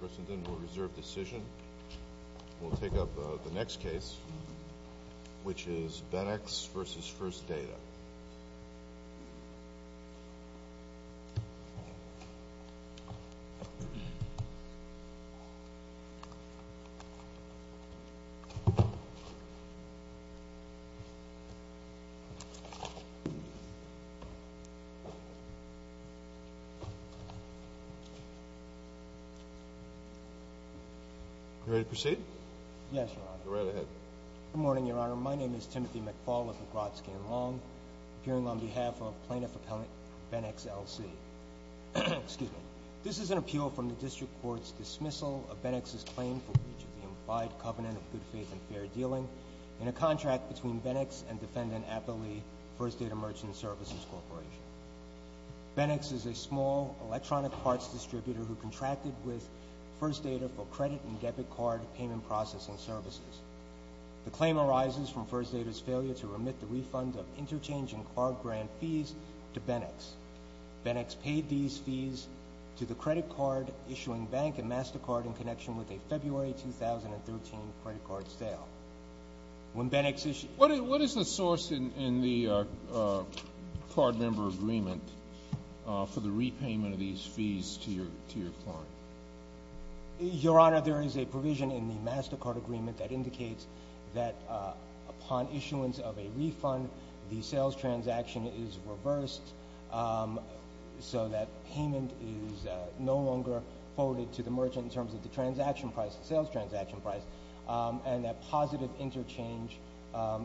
We'll reserve decision. We'll take up the next case, which is Benx v. First Data. You ready to proceed? Yes, Your Honor. Go right ahead. Good morning, Your Honor. My name is Timothy McFaul of McGrodsky & Long, appearing on behalf of Plaintiff Appellant Benx LC. Excuse me. This is an appeal from the District Court's dismissal of Benx's claim for breach of the implied covenant of good faith and fair dealing in a contract between Benx and Defendant Appley, First Data Merchant Services Corporation. Benx is a small electronic parts distributor who contracted with First Data for credit and debit card payment processing services. The claim arises from First Data's failure to remit the refund of interchange and card grant fees to Benx. Benx paid these fees to the credit card issuing bank and MasterCard in connection with a February 2013 credit card sale. When Benx issued What's in the card member agreement for the repayment of these fees to your client? Your Honor, there is a provision in the MasterCard agreement that indicates that upon issuance of a refund, the sales transaction is reversed so that payment is no longer forwarded to the merchant in terms of the transaction price, the sales transaction price, and that positive interchange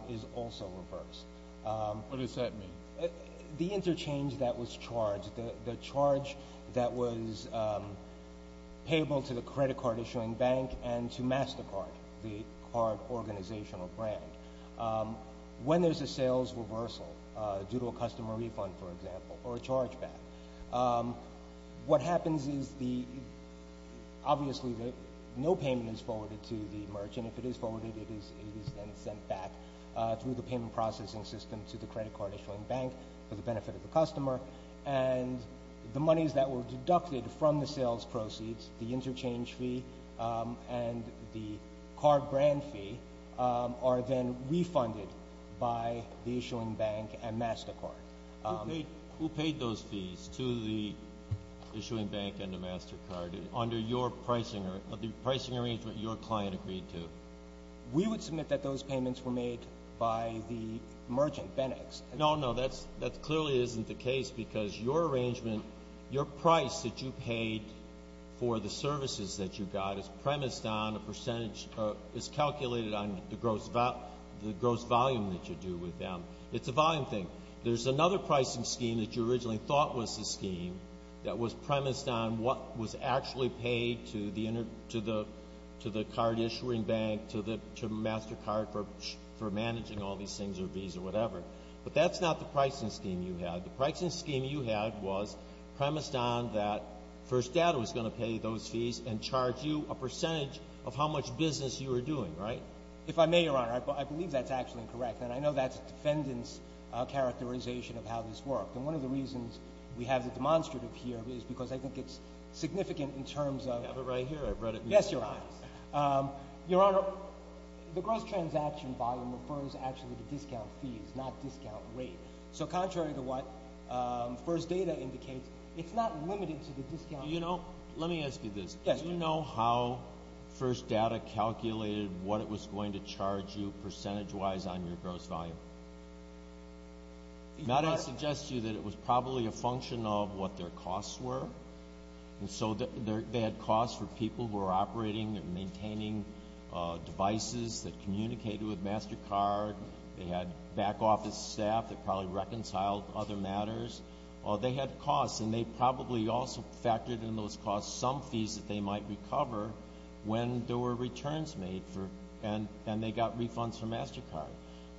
is also reversed. What does that mean? The interchange that was charged, the charge that was payable to the credit card issuing bank and to MasterCard, the card organizational brand. When there's a sales reversal due to a customer refund, for example, or a chargeback, what happens is obviously no payment is forwarded to the merchant. If it is forwarded, it is then sent back through the payment processing system to the credit card issuing bank for the benefit of the customer, and the monies that were deducted from the sales proceeds, the interchange fee and the card grant fee, are then refunded by the issuing bank and MasterCard. Who paid those fees to the issuing bank and to MasterCard under the pricing arrangement your client agreed to? We would submit that those payments were made by the merchant, Benex. No, no. That clearly isn't the case because your arrangement, your price that you paid for the services that you got is premised on a percentage or is calculated on the gross volume that you do with them. It's a volume thing. There's another pricing scheme that you originally thought was the scheme that was premised on what was actually paid to the card issuing bank, to MasterCard for managing all these things or fees or whatever. But that's not the pricing scheme you had. The pricing scheme you had was premised on that First Data was going to pay those fees and charge you a percentage of how much business you were doing, right? If I may, Your Honor, I believe that's actually correct. And I know that's a defendant's characterization of how this worked. And one of the reasons we have the demonstrative here is because I think it's significant in terms of— I have it right here. Yes, Your Honor. Your Honor, the gross transaction volume refers actually to discount fees, not discount rate. So contrary to what First Data indicates, it's not limited to the discount rate. Do you know—let me ask you this. Yes, Your Honor. Do you know how First Data calculated what it was going to charge you percentage-wise on your gross volume? Your Honor— I suggest to you that it was probably a function of what their costs were. And so they had costs for people who were operating and maintaining devices that communicated with MasterCard. They had back office staff that probably reconciled other matters. They had costs, and they probably also factored in those costs some fees that they might recover when there were returns made and they got refunds for MasterCard.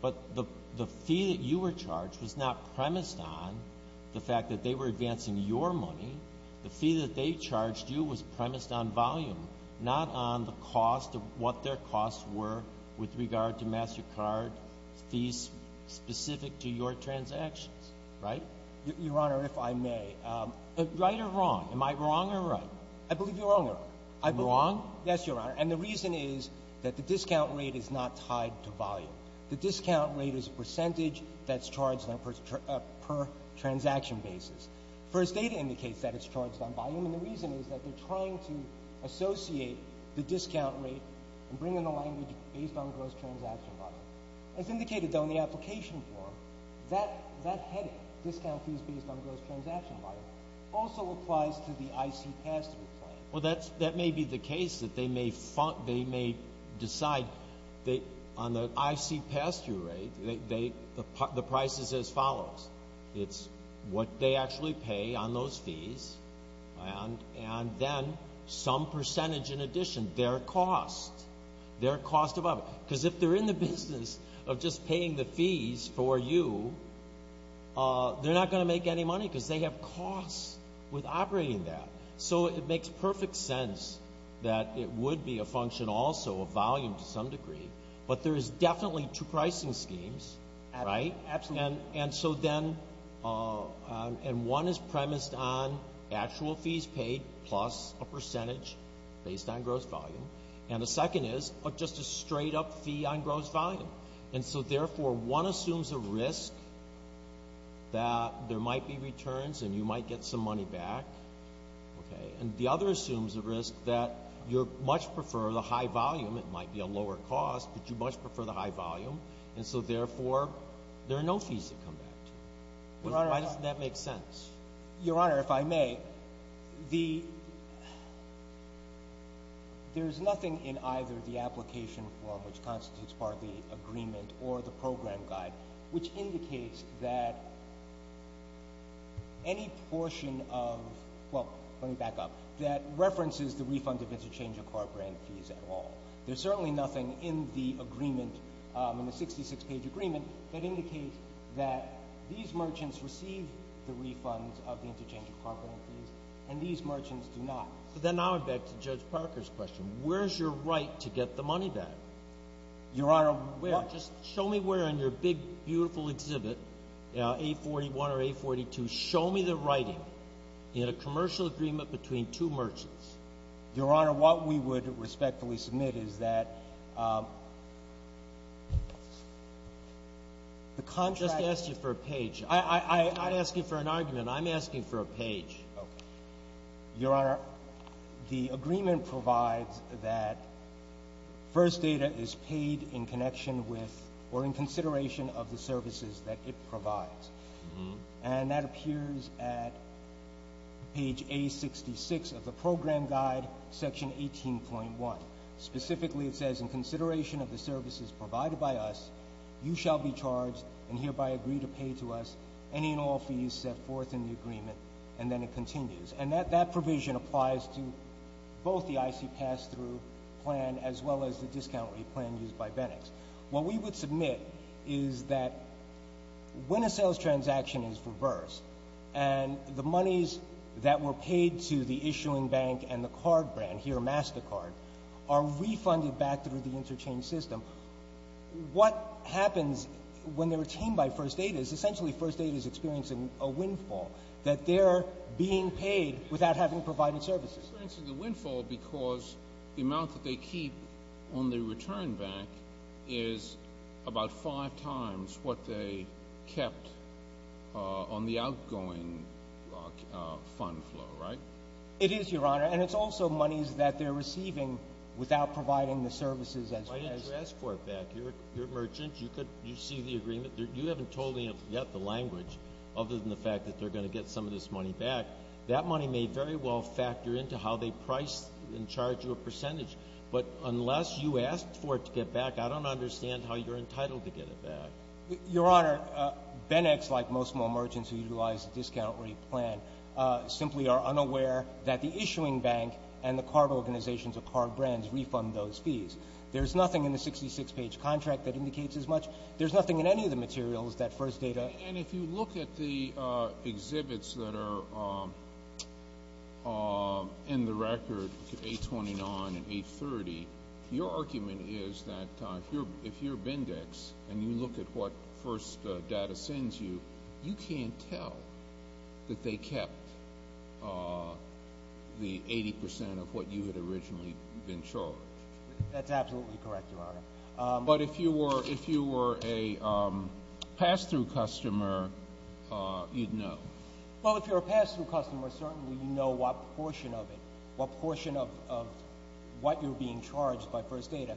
But the fee that you were charged was not premised on the fact that they were advancing your money. The fee that they charged you was premised on volume, not on the cost of what their costs were with regard to MasterCard fees specific to your transactions. Right? Your Honor, if I may, right or wrong? Am I wrong or right? I believe you're wrong, Your Honor. I believe— I'm wrong? Yes, Your Honor. And the reason is that the discount rate is not tied to volume. The discount rate is a percentage that's charged per transaction basis. First Data indicates that it's charged on volume. And the reason is that they're trying to associate the discount rate and bring in the language based on gross transaction volume. As indicated, though, in the application form, that heading, discount fees based on gross transaction volume, also applies to the IC pass-through plan. Well, that may be the case that they may decide that on the IC pass-through rate, the price is as follows. It's what they actually pay on those fees, and then some percentage in addition, their cost. Their cost above it. Because if they're in the business of just paying the fees for you, they're not going to make any money because they have costs with operating that. So it makes perfect sense that it would be a function also of volume to some degree. But there is definitely two pricing schemes, right? Absolutely. And so then one is premised on actual fees paid plus a percentage based on gross volume. And the second is just a straight-up fee on gross volume. And so, therefore, one assumes a risk that there might be returns and you might get some money back. And the other assumes a risk that you much prefer the high volume. It might be a lower cost, but you much prefer the high volume. And so, therefore, there are no fees to come back to. Your Honor, why doesn't that make sense? Your Honor, if I may, there's nothing in either the application form, which constitutes part of the agreement, or the program guide, which indicates that any portion of, well, let me back up, that references the refund of interchange of car brand fees at all. There's certainly nothing in the agreement, in the 66-page agreement, that indicates that these merchants receive the refunds of the interchange of car brand fees, and these merchants do not. But then now I'm back to Judge Parker's question. Where is your right to get the money back? Your Honor, where? Just show me where in your big, beautiful exhibit, A41 or A42, show me the writing in a commercial agreement between two merchants. Your Honor, what we would respectfully submit is that the contract. I just asked you for a page. I'm not asking for an argument. I'm asking for a page. Okay. Your Honor, the agreement provides that first data is paid in connection with or in consideration of the services that it provides. And that appears at page A66 of the program guide, section 18.1. Specifically, it says, in consideration of the services provided by us, you shall be charged and hereby agree to pay to us any and all fees set forth in the agreement. And then it continues. And that provision applies to both the IC pass-through plan as well as the discount rate plan used by Bennex. What we would submit is that when a sales transaction is reversed and the monies that were paid to the issuing bank and the card brand, here MasterCard, are refunded back through the interchange system, what happens when they're retained by first data is essentially first data is experiencing a windfall, that they're being paid without having provided services. They're experiencing the windfall because the amount that they keep on the return bank is about five times what they kept on the outgoing fund flow, right? It is, Your Honor. And it's also monies that they're receiving without providing the services as requested. Why didn't you ask for it back? You're a merchant. You see the agreement. You haven't told me yet the language, other than the fact that they're going to get some of this money back. That money may very well factor into how they price and charge you a percentage. But unless you asked for it to get back, I don't understand how you're entitled to get it back. Your Honor, Bennex, like most merchants who utilize the discount rate plan, simply are unaware that the issuing bank and the card organizations or card brands refund those fees. There's nothing in the 66-page contract that indicates as much. There's nothing in any of the materials that first data. And if you look at the exhibits that are in the record, 829 and 830, your argument is that if you're Bennex and you look at what first data sends you, you can't tell that they kept the 80 percent of what you had originally been charged. But if you were a pass-through customer, you'd know. Well, if you're a pass-through customer, certainly you know what portion of it, what portion of what you're being charged by first data,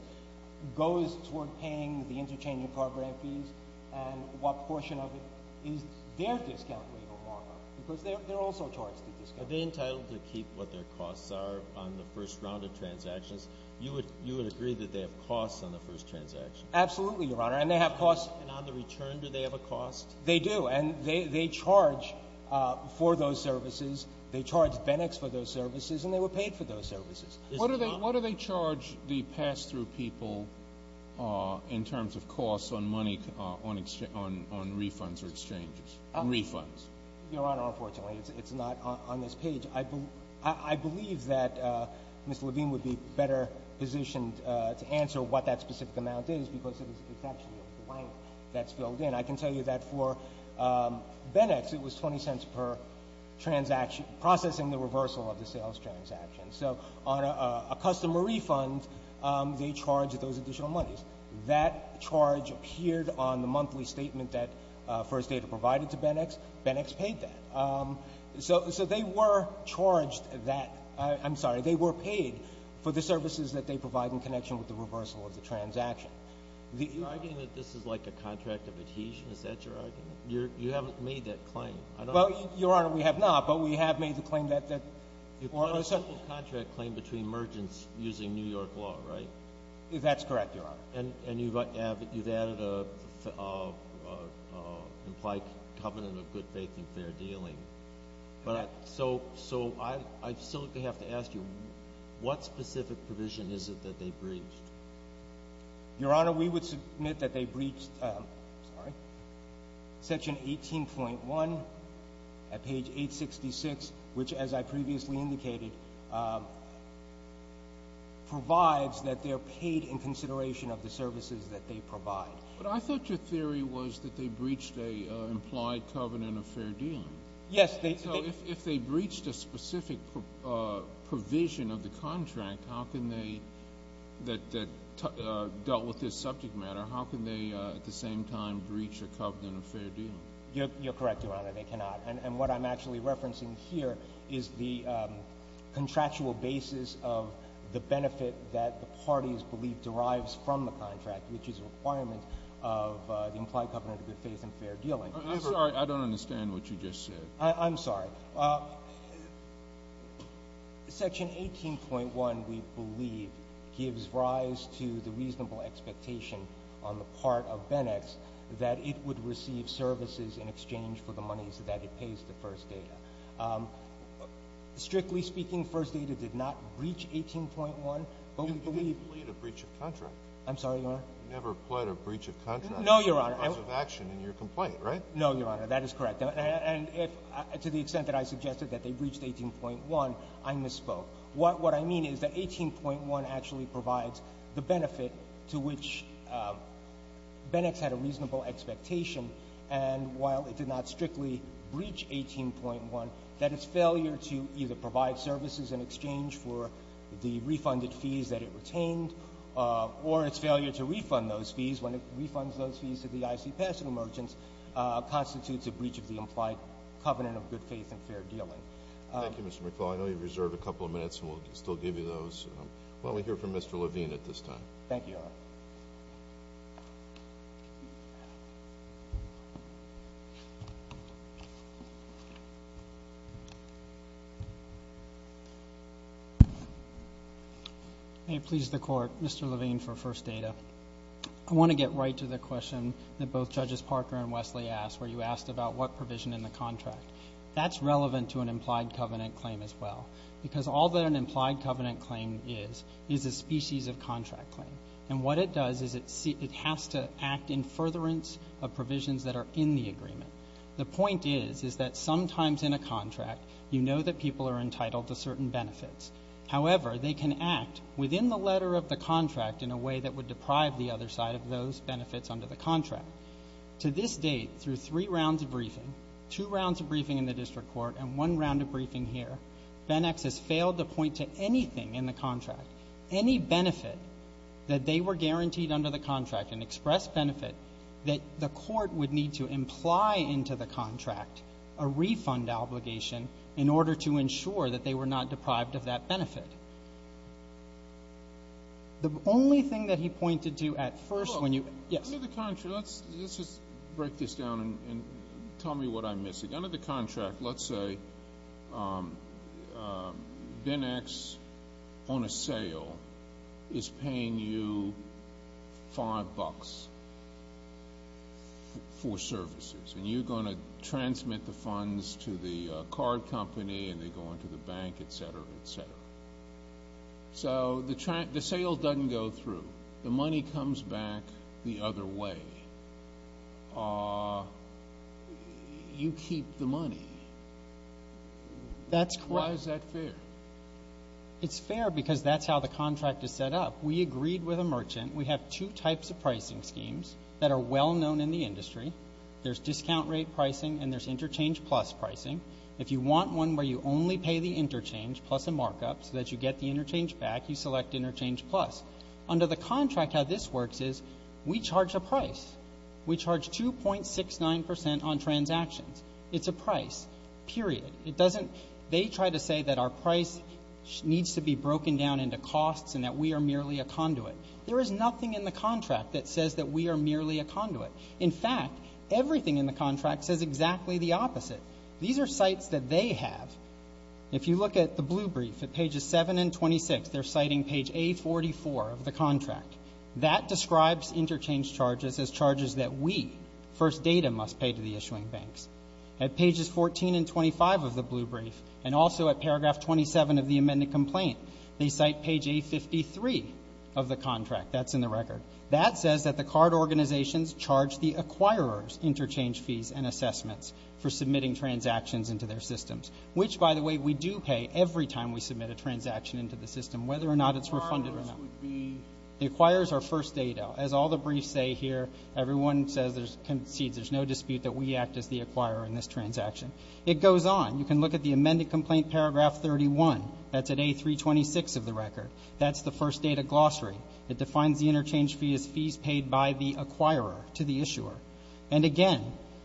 goes toward paying the interchanging card brand fees and what portion of it is their discount rate or markup, because they're also charged a discount. Are they entitled to keep what their costs are on the first round of transactions? Because you would agree that they have costs on the first transaction. Absolutely, Your Honor, and they have costs. And on the return, do they have a cost? They do, and they charge for those services. They charge Bennex for those services, and they were paid for those services. What do they charge the pass-through people in terms of costs on refunds or exchanges, refunds? Your Honor, unfortunately, it's not on this page. I believe that Mr. Levine would be better positioned to answer what that specific amount is because it's actually a blank that's filled in. I can tell you that for Bennex, it was 20 cents per transaction, processing the reversal of the sales transaction. So on a customer refund, they charge those additional monies. That charge appeared on the monthly statement that first data provided to Bennex. Bennex paid that. So they were charged that. I'm sorry. They were paid for the services that they provide in connection with the reversal of the transaction. Are you arguing that this is like a contract of adhesion? Is that your argument? You haven't made that claim. Well, Your Honor, we have not, but we have made the claim that or a certain – You put a simple contract claim between merchants using New York law, right? That's correct, Your Honor. And you've added an implied covenant of good faith and fair dealing. So I still have to ask you, what specific provision is it that they breached? Your Honor, we would submit that they breached section 18.1 at page 866, which, as I previously indicated, provides that they are paid in consideration of the services that they provide. But I thought your theory was that they breached an implied covenant of fair dealing. Yes. So if they breached a specific provision of the contract that dealt with this subject matter, how can they at the same time breach a covenant of fair dealing? You're correct, Your Honor. They cannot. And what I'm actually referencing here is the contractual basis of the benefit that the parties believe derives from the contract, which is a requirement of the implied covenant of good faith and fair dealing. I'm sorry. I don't understand what you just said. I'm sorry. Section 18.1, we believe, gives rise to the reasonable expectation on the part of Benex that it would receive services in exchange for the monies that it pays to First Data. Strictly speaking, First Data did not breach 18.1. You didn't plead a breach of contract. I'm sorry, Your Honor. You never pled a breach of contract. No, Your Honor. Because of action in your complaint, right? No, Your Honor. That is correct. And to the extent that I suggested that they breached 18.1, I misspoke. What I mean is that 18.1 actually provides the benefit to which Benex had a reasonable expectation. And while it did not strictly breach 18.1, that its failure to either provide services in exchange for the refunded fees that it retained or its failure to refund those fees when it refunds those fees to the I.C. Pasadena merchants constitutes a breach of the implied covenant of good faith and fair dealing. Thank you, Mr. McFaul. I know you reserved a couple of minutes, and we'll still give you those. Let me hear from Mr. Levine at this time. Thank you, Your Honor. May it please the Court, Mr. Levine for First Data. I want to get right to the question that both Judges Parker and Wesley asked, where you asked about what provision in the contract. That's relevant to an implied covenant claim as well. Because all that an implied covenant claim is, is a species of contract claim. And what it does is it has to act in furtherance of provisions that are in the agreement. The point is, is that sometimes in a contract, you know that people are entitled to certain benefits. However, they can act within the letter of the contract in a way that would deprive the other side of those benefits under the contract. To this date, through three rounds of briefing, two rounds of briefing in the district court, and one round of briefing here, Benex has failed to point to anything in the contract, any benefit that they were guaranteed under the contract, an express benefit, that the court would need to imply into the contract, a refund obligation, in order to ensure that they were not deprived of that benefit. The only thing that he pointed to at first when you – Under the contract, let's just break this down and tell me what I'm missing. Under the contract, let's say Benex, on a sale, is paying you five bucks for services. And you're going to transmit the funds to the card company, and they go into the bank, et cetera, et cetera. So the sale doesn't go through. The money comes back the other way. You keep the money. That's correct. Why is that fair? It's fair because that's how the contract is set up. We agreed with a merchant. We have two types of pricing schemes that are well known in the industry. There's discount rate pricing and there's interchange plus pricing. If you want one where you only pay the interchange plus a markup so that you get the interchange back, you select interchange plus. Under the contract, how this works is we charge a price. We charge 2.69% on transactions. It's a price, period. It doesn't – they try to say that our price needs to be broken down into costs and that we are merely a conduit. There is nothing in the contract that says that we are merely a conduit. In fact, everything in the contract says exactly the opposite. These are sites that they have. If you look at the blue brief, at pages 7 and 26, they're citing page A44 of the contract. That describes interchange charges as charges that we, First Data, must pay to the issuing banks. At pages 14 and 25 of the blue brief and also at paragraph 27 of the amended complaint, they cite page A53 of the contract. That's in the record. That says that the card organizations charge the acquirers interchange fees and assessments for submitting transactions into their systems, which, by the way, we do pay every time we submit a transaction into the system, whether or not it's refunded or not. The acquirers are First Data. As all the briefs say here, everyone concedes there's no dispute that we act as the acquirer in this transaction. It goes on. You can look at the amended complaint, paragraph 31. That's at A326 of the record. That's the First Data glossary. It defines the interchange fee as fees paid by the acquirer to the issuer. And, again,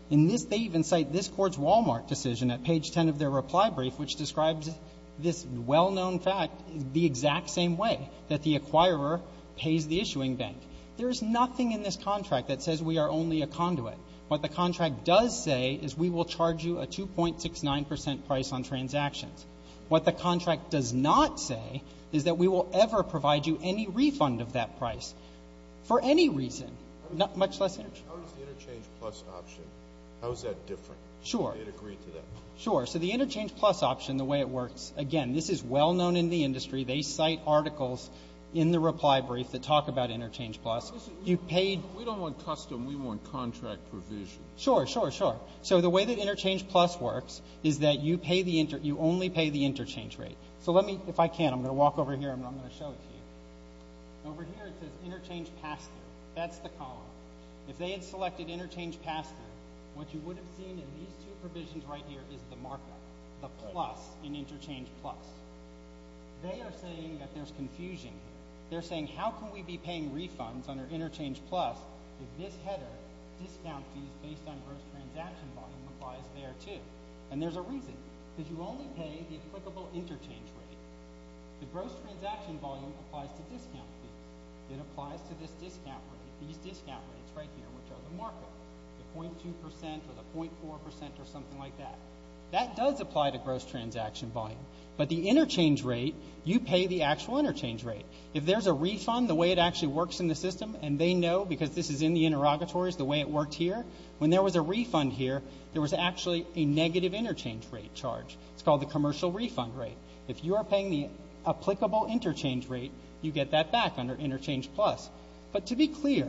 in this, they even cite this Court's Wal-Mart decision at page 10 of their reply brief, which describes this well-known fact the exact same way, that the acquirer pays the issuing bank. There is nothing in this contract that says we are only a conduit. What the contract does say is we will charge you a 2.69 percent price on transactions. What the contract does not say is that we will ever provide you any refund of that price for any reason, much less interchange. How does the Interchange Plus option, how is that different? Sure. Do you agree to that? Sure. So the Interchange Plus option, the way it works, again, this is well-known in the industry. They cite articles in the reply brief that talk about Interchange Plus. We don't want custom. We want contract provision. Sure, sure, sure. So the way that Interchange Plus works is that you only pay the interchange rate. So let me, if I can, I'm going to walk over here and I'm going to show it to you. Over here it says Interchange PASTA. That's the column. If they had selected Interchange PASTA, what you would have seen in these two provisions right here is the markup, the plus in Interchange Plus. They are saying that there's confusion here. They're saying how can we be paying refunds under Interchange Plus if this header, discount fees based on gross transaction volume, applies there, too? And there's a reason, because you only pay the applicable interchange rate. The gross transaction volume applies to discount fees. It applies to this discount rate, these discount rates right here, which are the markup, the 0.2% or the 0.4% or something like that. That does apply to gross transaction volume. But the interchange rate, you pay the actual interchange rate. If there's a refund, the way it actually works in the system, and they know because this is in the interrogatories the way it worked here, when there was a refund here, there was actually a negative interchange rate charge. It's called the commercial refund rate. If you are paying the applicable interchange rate, you get that back under Interchange Plus. But to be clear,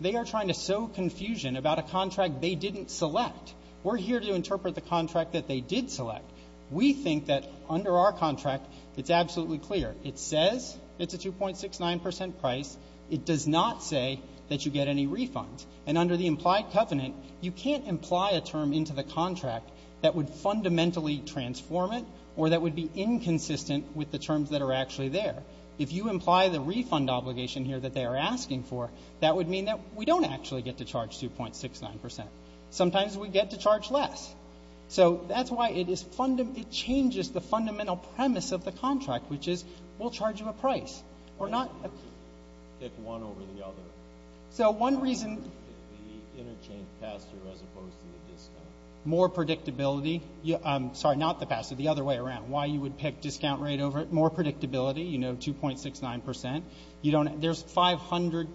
they are trying to sow confusion about a contract they didn't select. We're here to interpret the contract that they did select. We think that under our contract, it's absolutely clear. It says it's a 2.69% price. It does not say that you get any refunds. And under the implied covenant, you can't imply a term into the contract that would fundamentally transform it or that would be inconsistent with the terms that are actually there. If you imply the refund obligation here that they are asking for, that would mean that we don't actually get to charge 2.69%. Sometimes we get to charge less. So that's why it changes the fundamental premise of the contract, which is we'll charge you a price. Pick one over the other. So one reason. The interchange pass-through as opposed to the discount. More predictability. Sorry, not the pass-through. The other way around, why you would pick discount rate over it. More predictability, you know, 2.69%. There's probably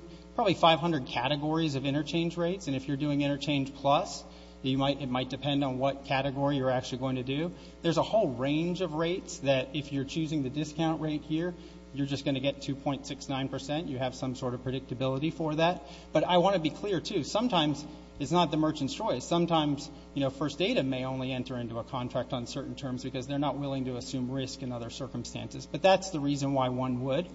500 categories of interchange rates. And if you're doing Interchange Plus, it might depend on what category you're actually going to do. There's a whole range of rates that if you're choosing the discount rate here, you're just going to get 2.69%. You have some sort of predictability for that. But I want to be clear, too. Sometimes it's not the merchant's choice. Sometimes, you know, First Data may only enter into a contract on certain terms because they're not willing to assume risk in other circumstances. But that's the reason why one would.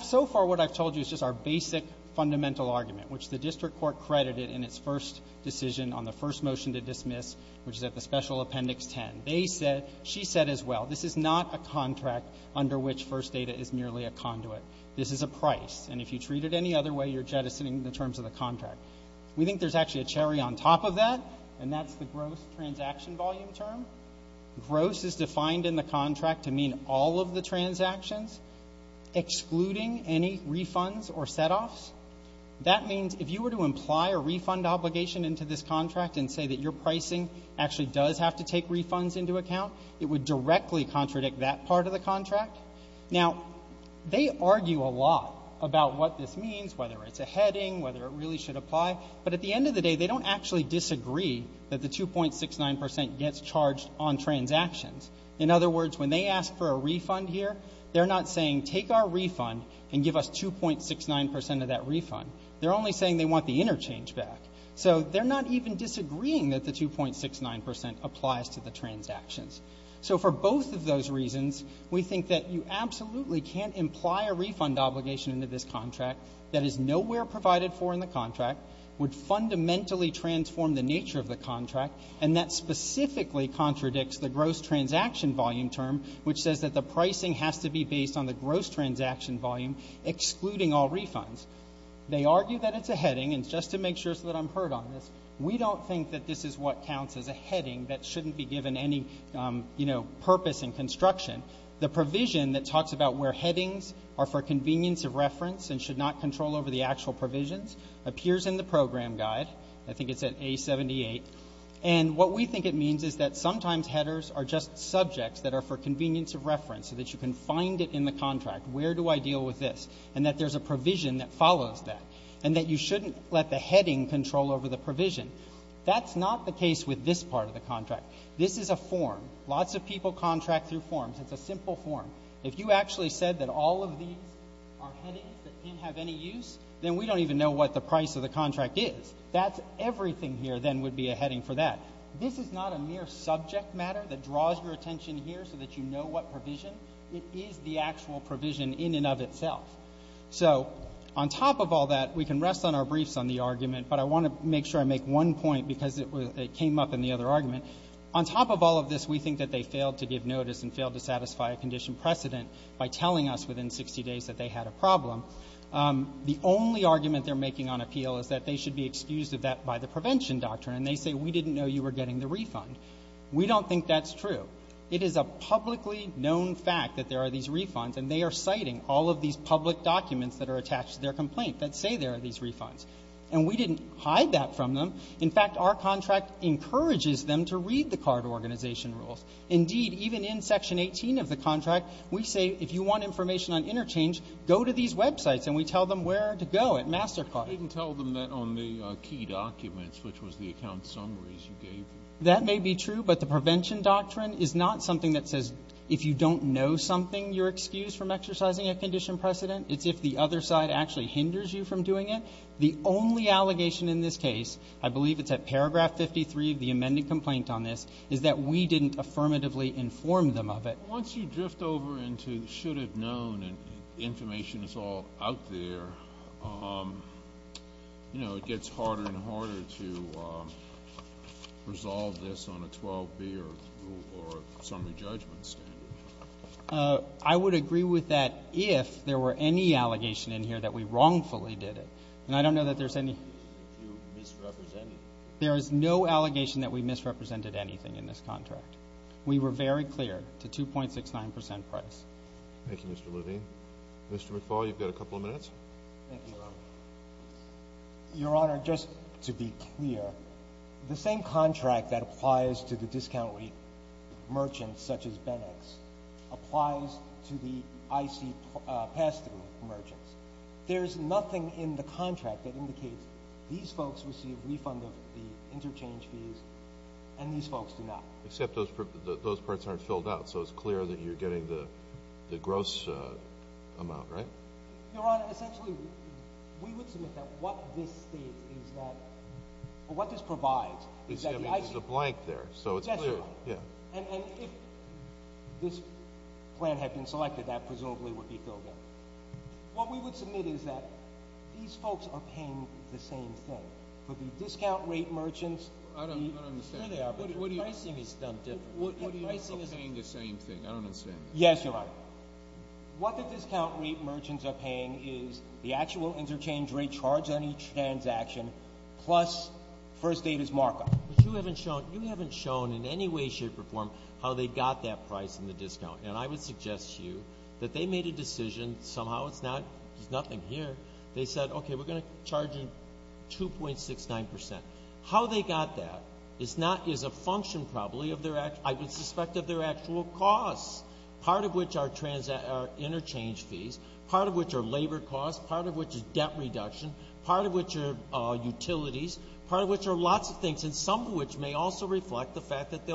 So far what I've told you is just our basic fundamental argument, which the district court credited in its first decision on the first motion to dismiss, which is at the Special Appendix 10. They said, she said as well, this is not a contract under which First Data is merely a conduit. This is a price. And if you treat it any other way, you're jettisoning the terms of the contract. We think there's actually a cherry on top of that, and that's the gross transaction volume term. Gross is defined in the contract to mean all of the transactions, excluding any refunds or setoffs. That means if you were to imply a refund obligation into this contract and say that your pricing actually does have to take refunds into account, it would directly contradict that part of the contract. Now, they argue a lot about what this means, whether it's a heading, whether it really should apply. But at the end of the day, they don't actually disagree that the 2.69% gets charged on transactions. In other words, when they ask for a refund here, they're not saying take our refund and give us 2.69% of that refund. They're only saying they want the interchange back. So they're not even disagreeing that the 2.69% applies to the transactions. So for both of those reasons, we think that you absolutely can't imply a refund obligation into this contract that is nowhere provided for in the contract, would fundamentally transform the nature of the contract, and that specifically contradicts the gross transaction volume term, which says that the pricing has to be based on the gross transaction volume, excluding all refunds. They argue that it's a heading, and just to make sure so that I'm heard on this, we don't think that this is what counts as a heading that shouldn't be given any purpose in construction. The provision that talks about where headings are for convenience of reference and should not control over the actual provisions appears in the program guide. I think it's at A78. And what we think it means is that sometimes headers are just subjects that are for convenience of reference, so that you can find it in the contract. Where do I deal with this? And that there's a provision that follows that, and that you shouldn't let the heading control over the provision. That's not the case with this part of the contract. This is a form. Lots of people contract through forms. It's a simple form. If you actually said that all of these are headings that can't have any use, then we don't even know what the price of the contract is. That's everything here then would be a heading for that. This is not a mere subject matter that draws your attention here so that you know what provision. It is the actual provision in and of itself. So on top of all that, we can rest on our briefs on the argument, but I want to make sure I make one point because it came up in the other argument. On top of all of this, we think that they failed to give notice and failed to satisfy a condition precedent by telling us within 60 days that they had a problem. The only argument they're making on appeal is that they should be excused of that by the prevention doctrine, and they say, we didn't know you were getting the refund. We don't think that's true. It is a publicly known fact that there are these refunds, and they are citing all of these public documents that are attached to their complaint that say there are these refunds, and we didn't hide that from them. In fact, our contract encourages them to read the card organization rules. Indeed, even in Section 18 of the contract, we say, if you want information on interchange, go to these websites, and we tell them where to go at MasterCard. You didn't tell them that on the key documents, which was the account summaries you gave. That may be true, but the prevention doctrine is not something that says if you don't know something, you're excused from exercising a condition precedent. It's if the other side actually hinders you from doing it. The only allegation in this case, I believe it's at paragraph 53 of the amended complaint on this, is that we didn't affirmatively inform them of it. Once you drift over into should have known and information is all out there, you know, it gets harder and harder to resolve this on a 12-B or a summary judgment standard. I would agree with that if there were any allegation in here that we wrongfully did it. And I don't know that there's any. There is no allegation that we misrepresented anything in this contract. We were very clear to 2.69% price. Thank you, Mr. Levine. Mr. McFaul, you've got a couple of minutes. Thank you, Your Honor. Your Honor, just to be clear, the same contract that applies to the discount rate merchants, such as Benex, applies to the IC pass-through merchants. There's nothing in the contract that indicates these folks receive refund of the interchange fees and these folks do not. Except those parts aren't filled out, so it's clear that you're getting the gross amount, right? Your Honor, essentially, we would submit that what this states is that or what this provides is that the IC There's a blank there, so it's clear. And if this plan had been selected, that presumably would be filled out. What we would submit is that these folks are paying the same thing. But the discount rate merchants I don't understand. Here they are, but their pricing is done differently. What do you mean they're paying the same thing? I don't understand that. Yes, Your Honor. What the discount rate merchants are paying is the actual interchange rate charged on each transaction plus First Data's markup. But you haven't shown in any way, shape, or form how they got that price in the discount. And I would suggest to you that they made a decision. Somehow it's not. There's nothing here. They said, okay, we're going to charge you 2.69%. How they got that is a function probably of their actual I would suspect of their actual costs, part of which are interchange fees, part of which are labor costs, part of which is debt reduction, part of which are utilities, part of which are lots of things, and some of which may also reflect the fact that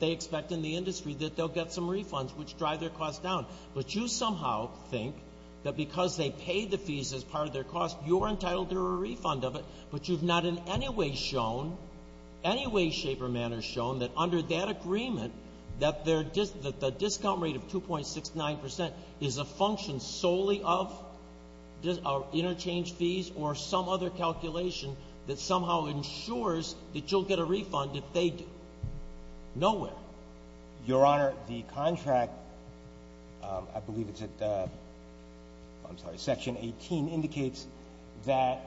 they expect in the industry that they'll get some refunds which drive their costs down. But you somehow think that because they paid the fees as part of their costs, you're entitled to a refund of it, but you've not in any way shown, any way, shape, or manner shown that under that agreement, that the discount rate of 2.69% is a function solely of interchange fees or some other calculation that somehow ensures that you'll get a refund if they do. Nowhere. Your Honor, the contract, I believe it's at section 18, indicates that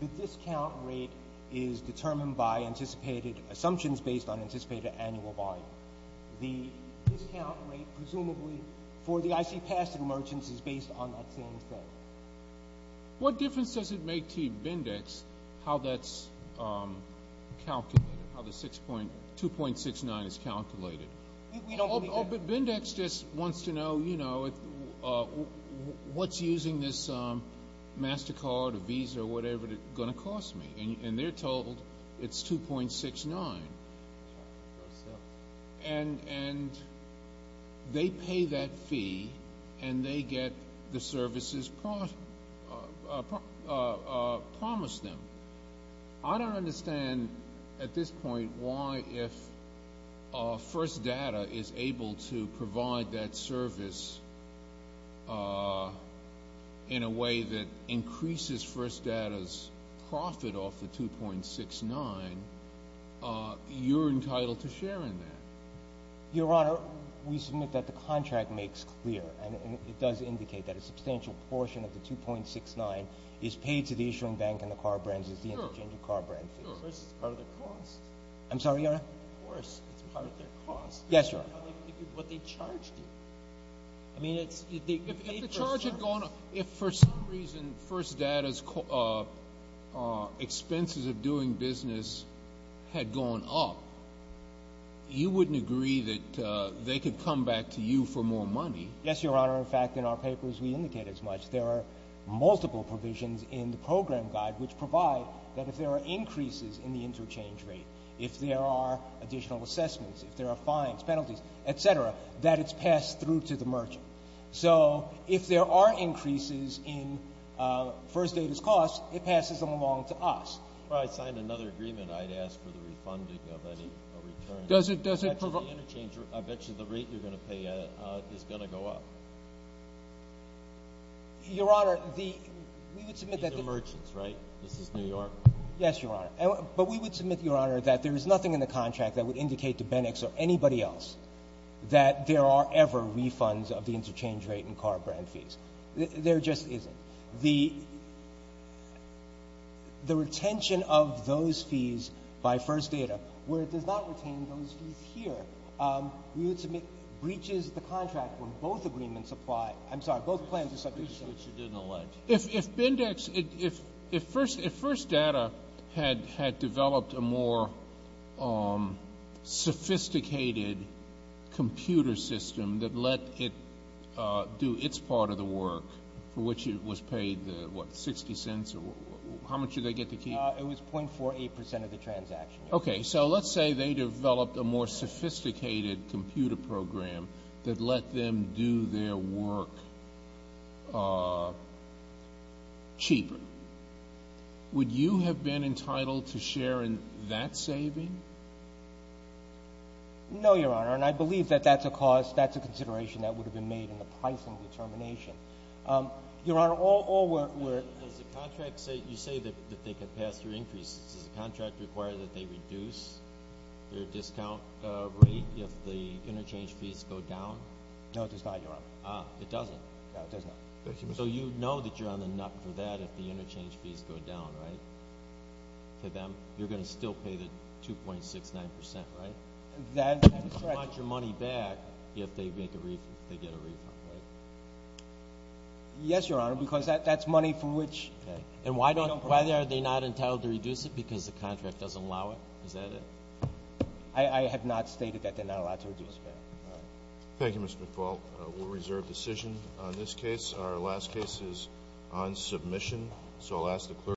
the discount rate is determined by anticipated assumptions based on anticipated annual volume. The discount rate presumably for the ICPAS and merchants is based on that same set. What difference does it make to Bindex how that's calculated, how the 2.69 is calculated? We don't believe that. Oh, but Bindex just wants to know, you know, what's using this MasterCard or Visa or whatever going to cost me? And they're told it's 2.69. And they pay that fee and they get the services promised them. I don't understand at this point why if First Data is able to provide that service in a way that increases First Data's profit off the 2.69, you're entitled to share in that. Your Honor, we submit that the contract makes clear, and it does indicate that a substantial portion of the 2.69 is paid to the issuing bank and the car brands as the interchange of car brand fees. Of course, it's part of the cost. I'm sorry, Your Honor? Of course, it's part of the cost. Yes, Your Honor. What they charge you. If the charge had gone up, if for some reason First Data's expenses of doing business had gone up, you wouldn't agree that they could come back to you for more money. Yes, Your Honor. In fact, in our papers we indicate as much. There are multiple provisions in the program guide which provide that if there are increases in the interchange rate, if there are additional assessments, if there are fines, penalties, et cetera, that it's passed through to the merchant. So if there are increases in First Data's costs, it passes them along to us. If I signed another agreement, I'd ask for the refunding of any return. Does it provide? I bet you the rate you're going to pay is going to go up. Your Honor, we would submit that the merchants, right? This is New York. Yes, Your Honor. But we would submit, Your Honor, that there is nothing in the contract that would indicate to Bindex or anybody else that there are ever refunds of the interchange rate and car brand fees. There just isn't. The retention of those fees by First Data, where it does not retain those fees here, we would submit breaches the contract where both agreements apply. I'm sorry. Both plans are subject to the same. If Bindex, if First Data had developed a more sophisticated computer system that let it do its part of the work, for which it was paid, what, 60 cents? How much did they get to keep? It was .48 percent of the transaction. Okay. So let's say they developed a more sophisticated computer program that let them do their work cheaper. Would you have been entitled to share in that saving? No, Your Honor. And I believe that that's a cause, that's a consideration that would have been made in the pricing determination. Your Honor, all work were. You say that they could pass through increases. Does the contract require that they reduce their discount rate if the interchange fees go down? No, it does not, Your Honor. It doesn't? No, it does not. So you know that you're on the nut for that if the interchange fees go down, right, to them? You're going to still pay the 2.69 percent, right? That's correct. You're going to want your money back if they get a refund, right? Yes, Your Honor, because that's money for which. Okay. And why are they not entitled to reduce it? Because the contract doesn't allow it? Is that it? I have not stated that they're not allowed to reduce it. All right. Thank you, Mr. McFaul. We'll reserve decision on this case. Our last case is on submission. So I'll ask the clerk.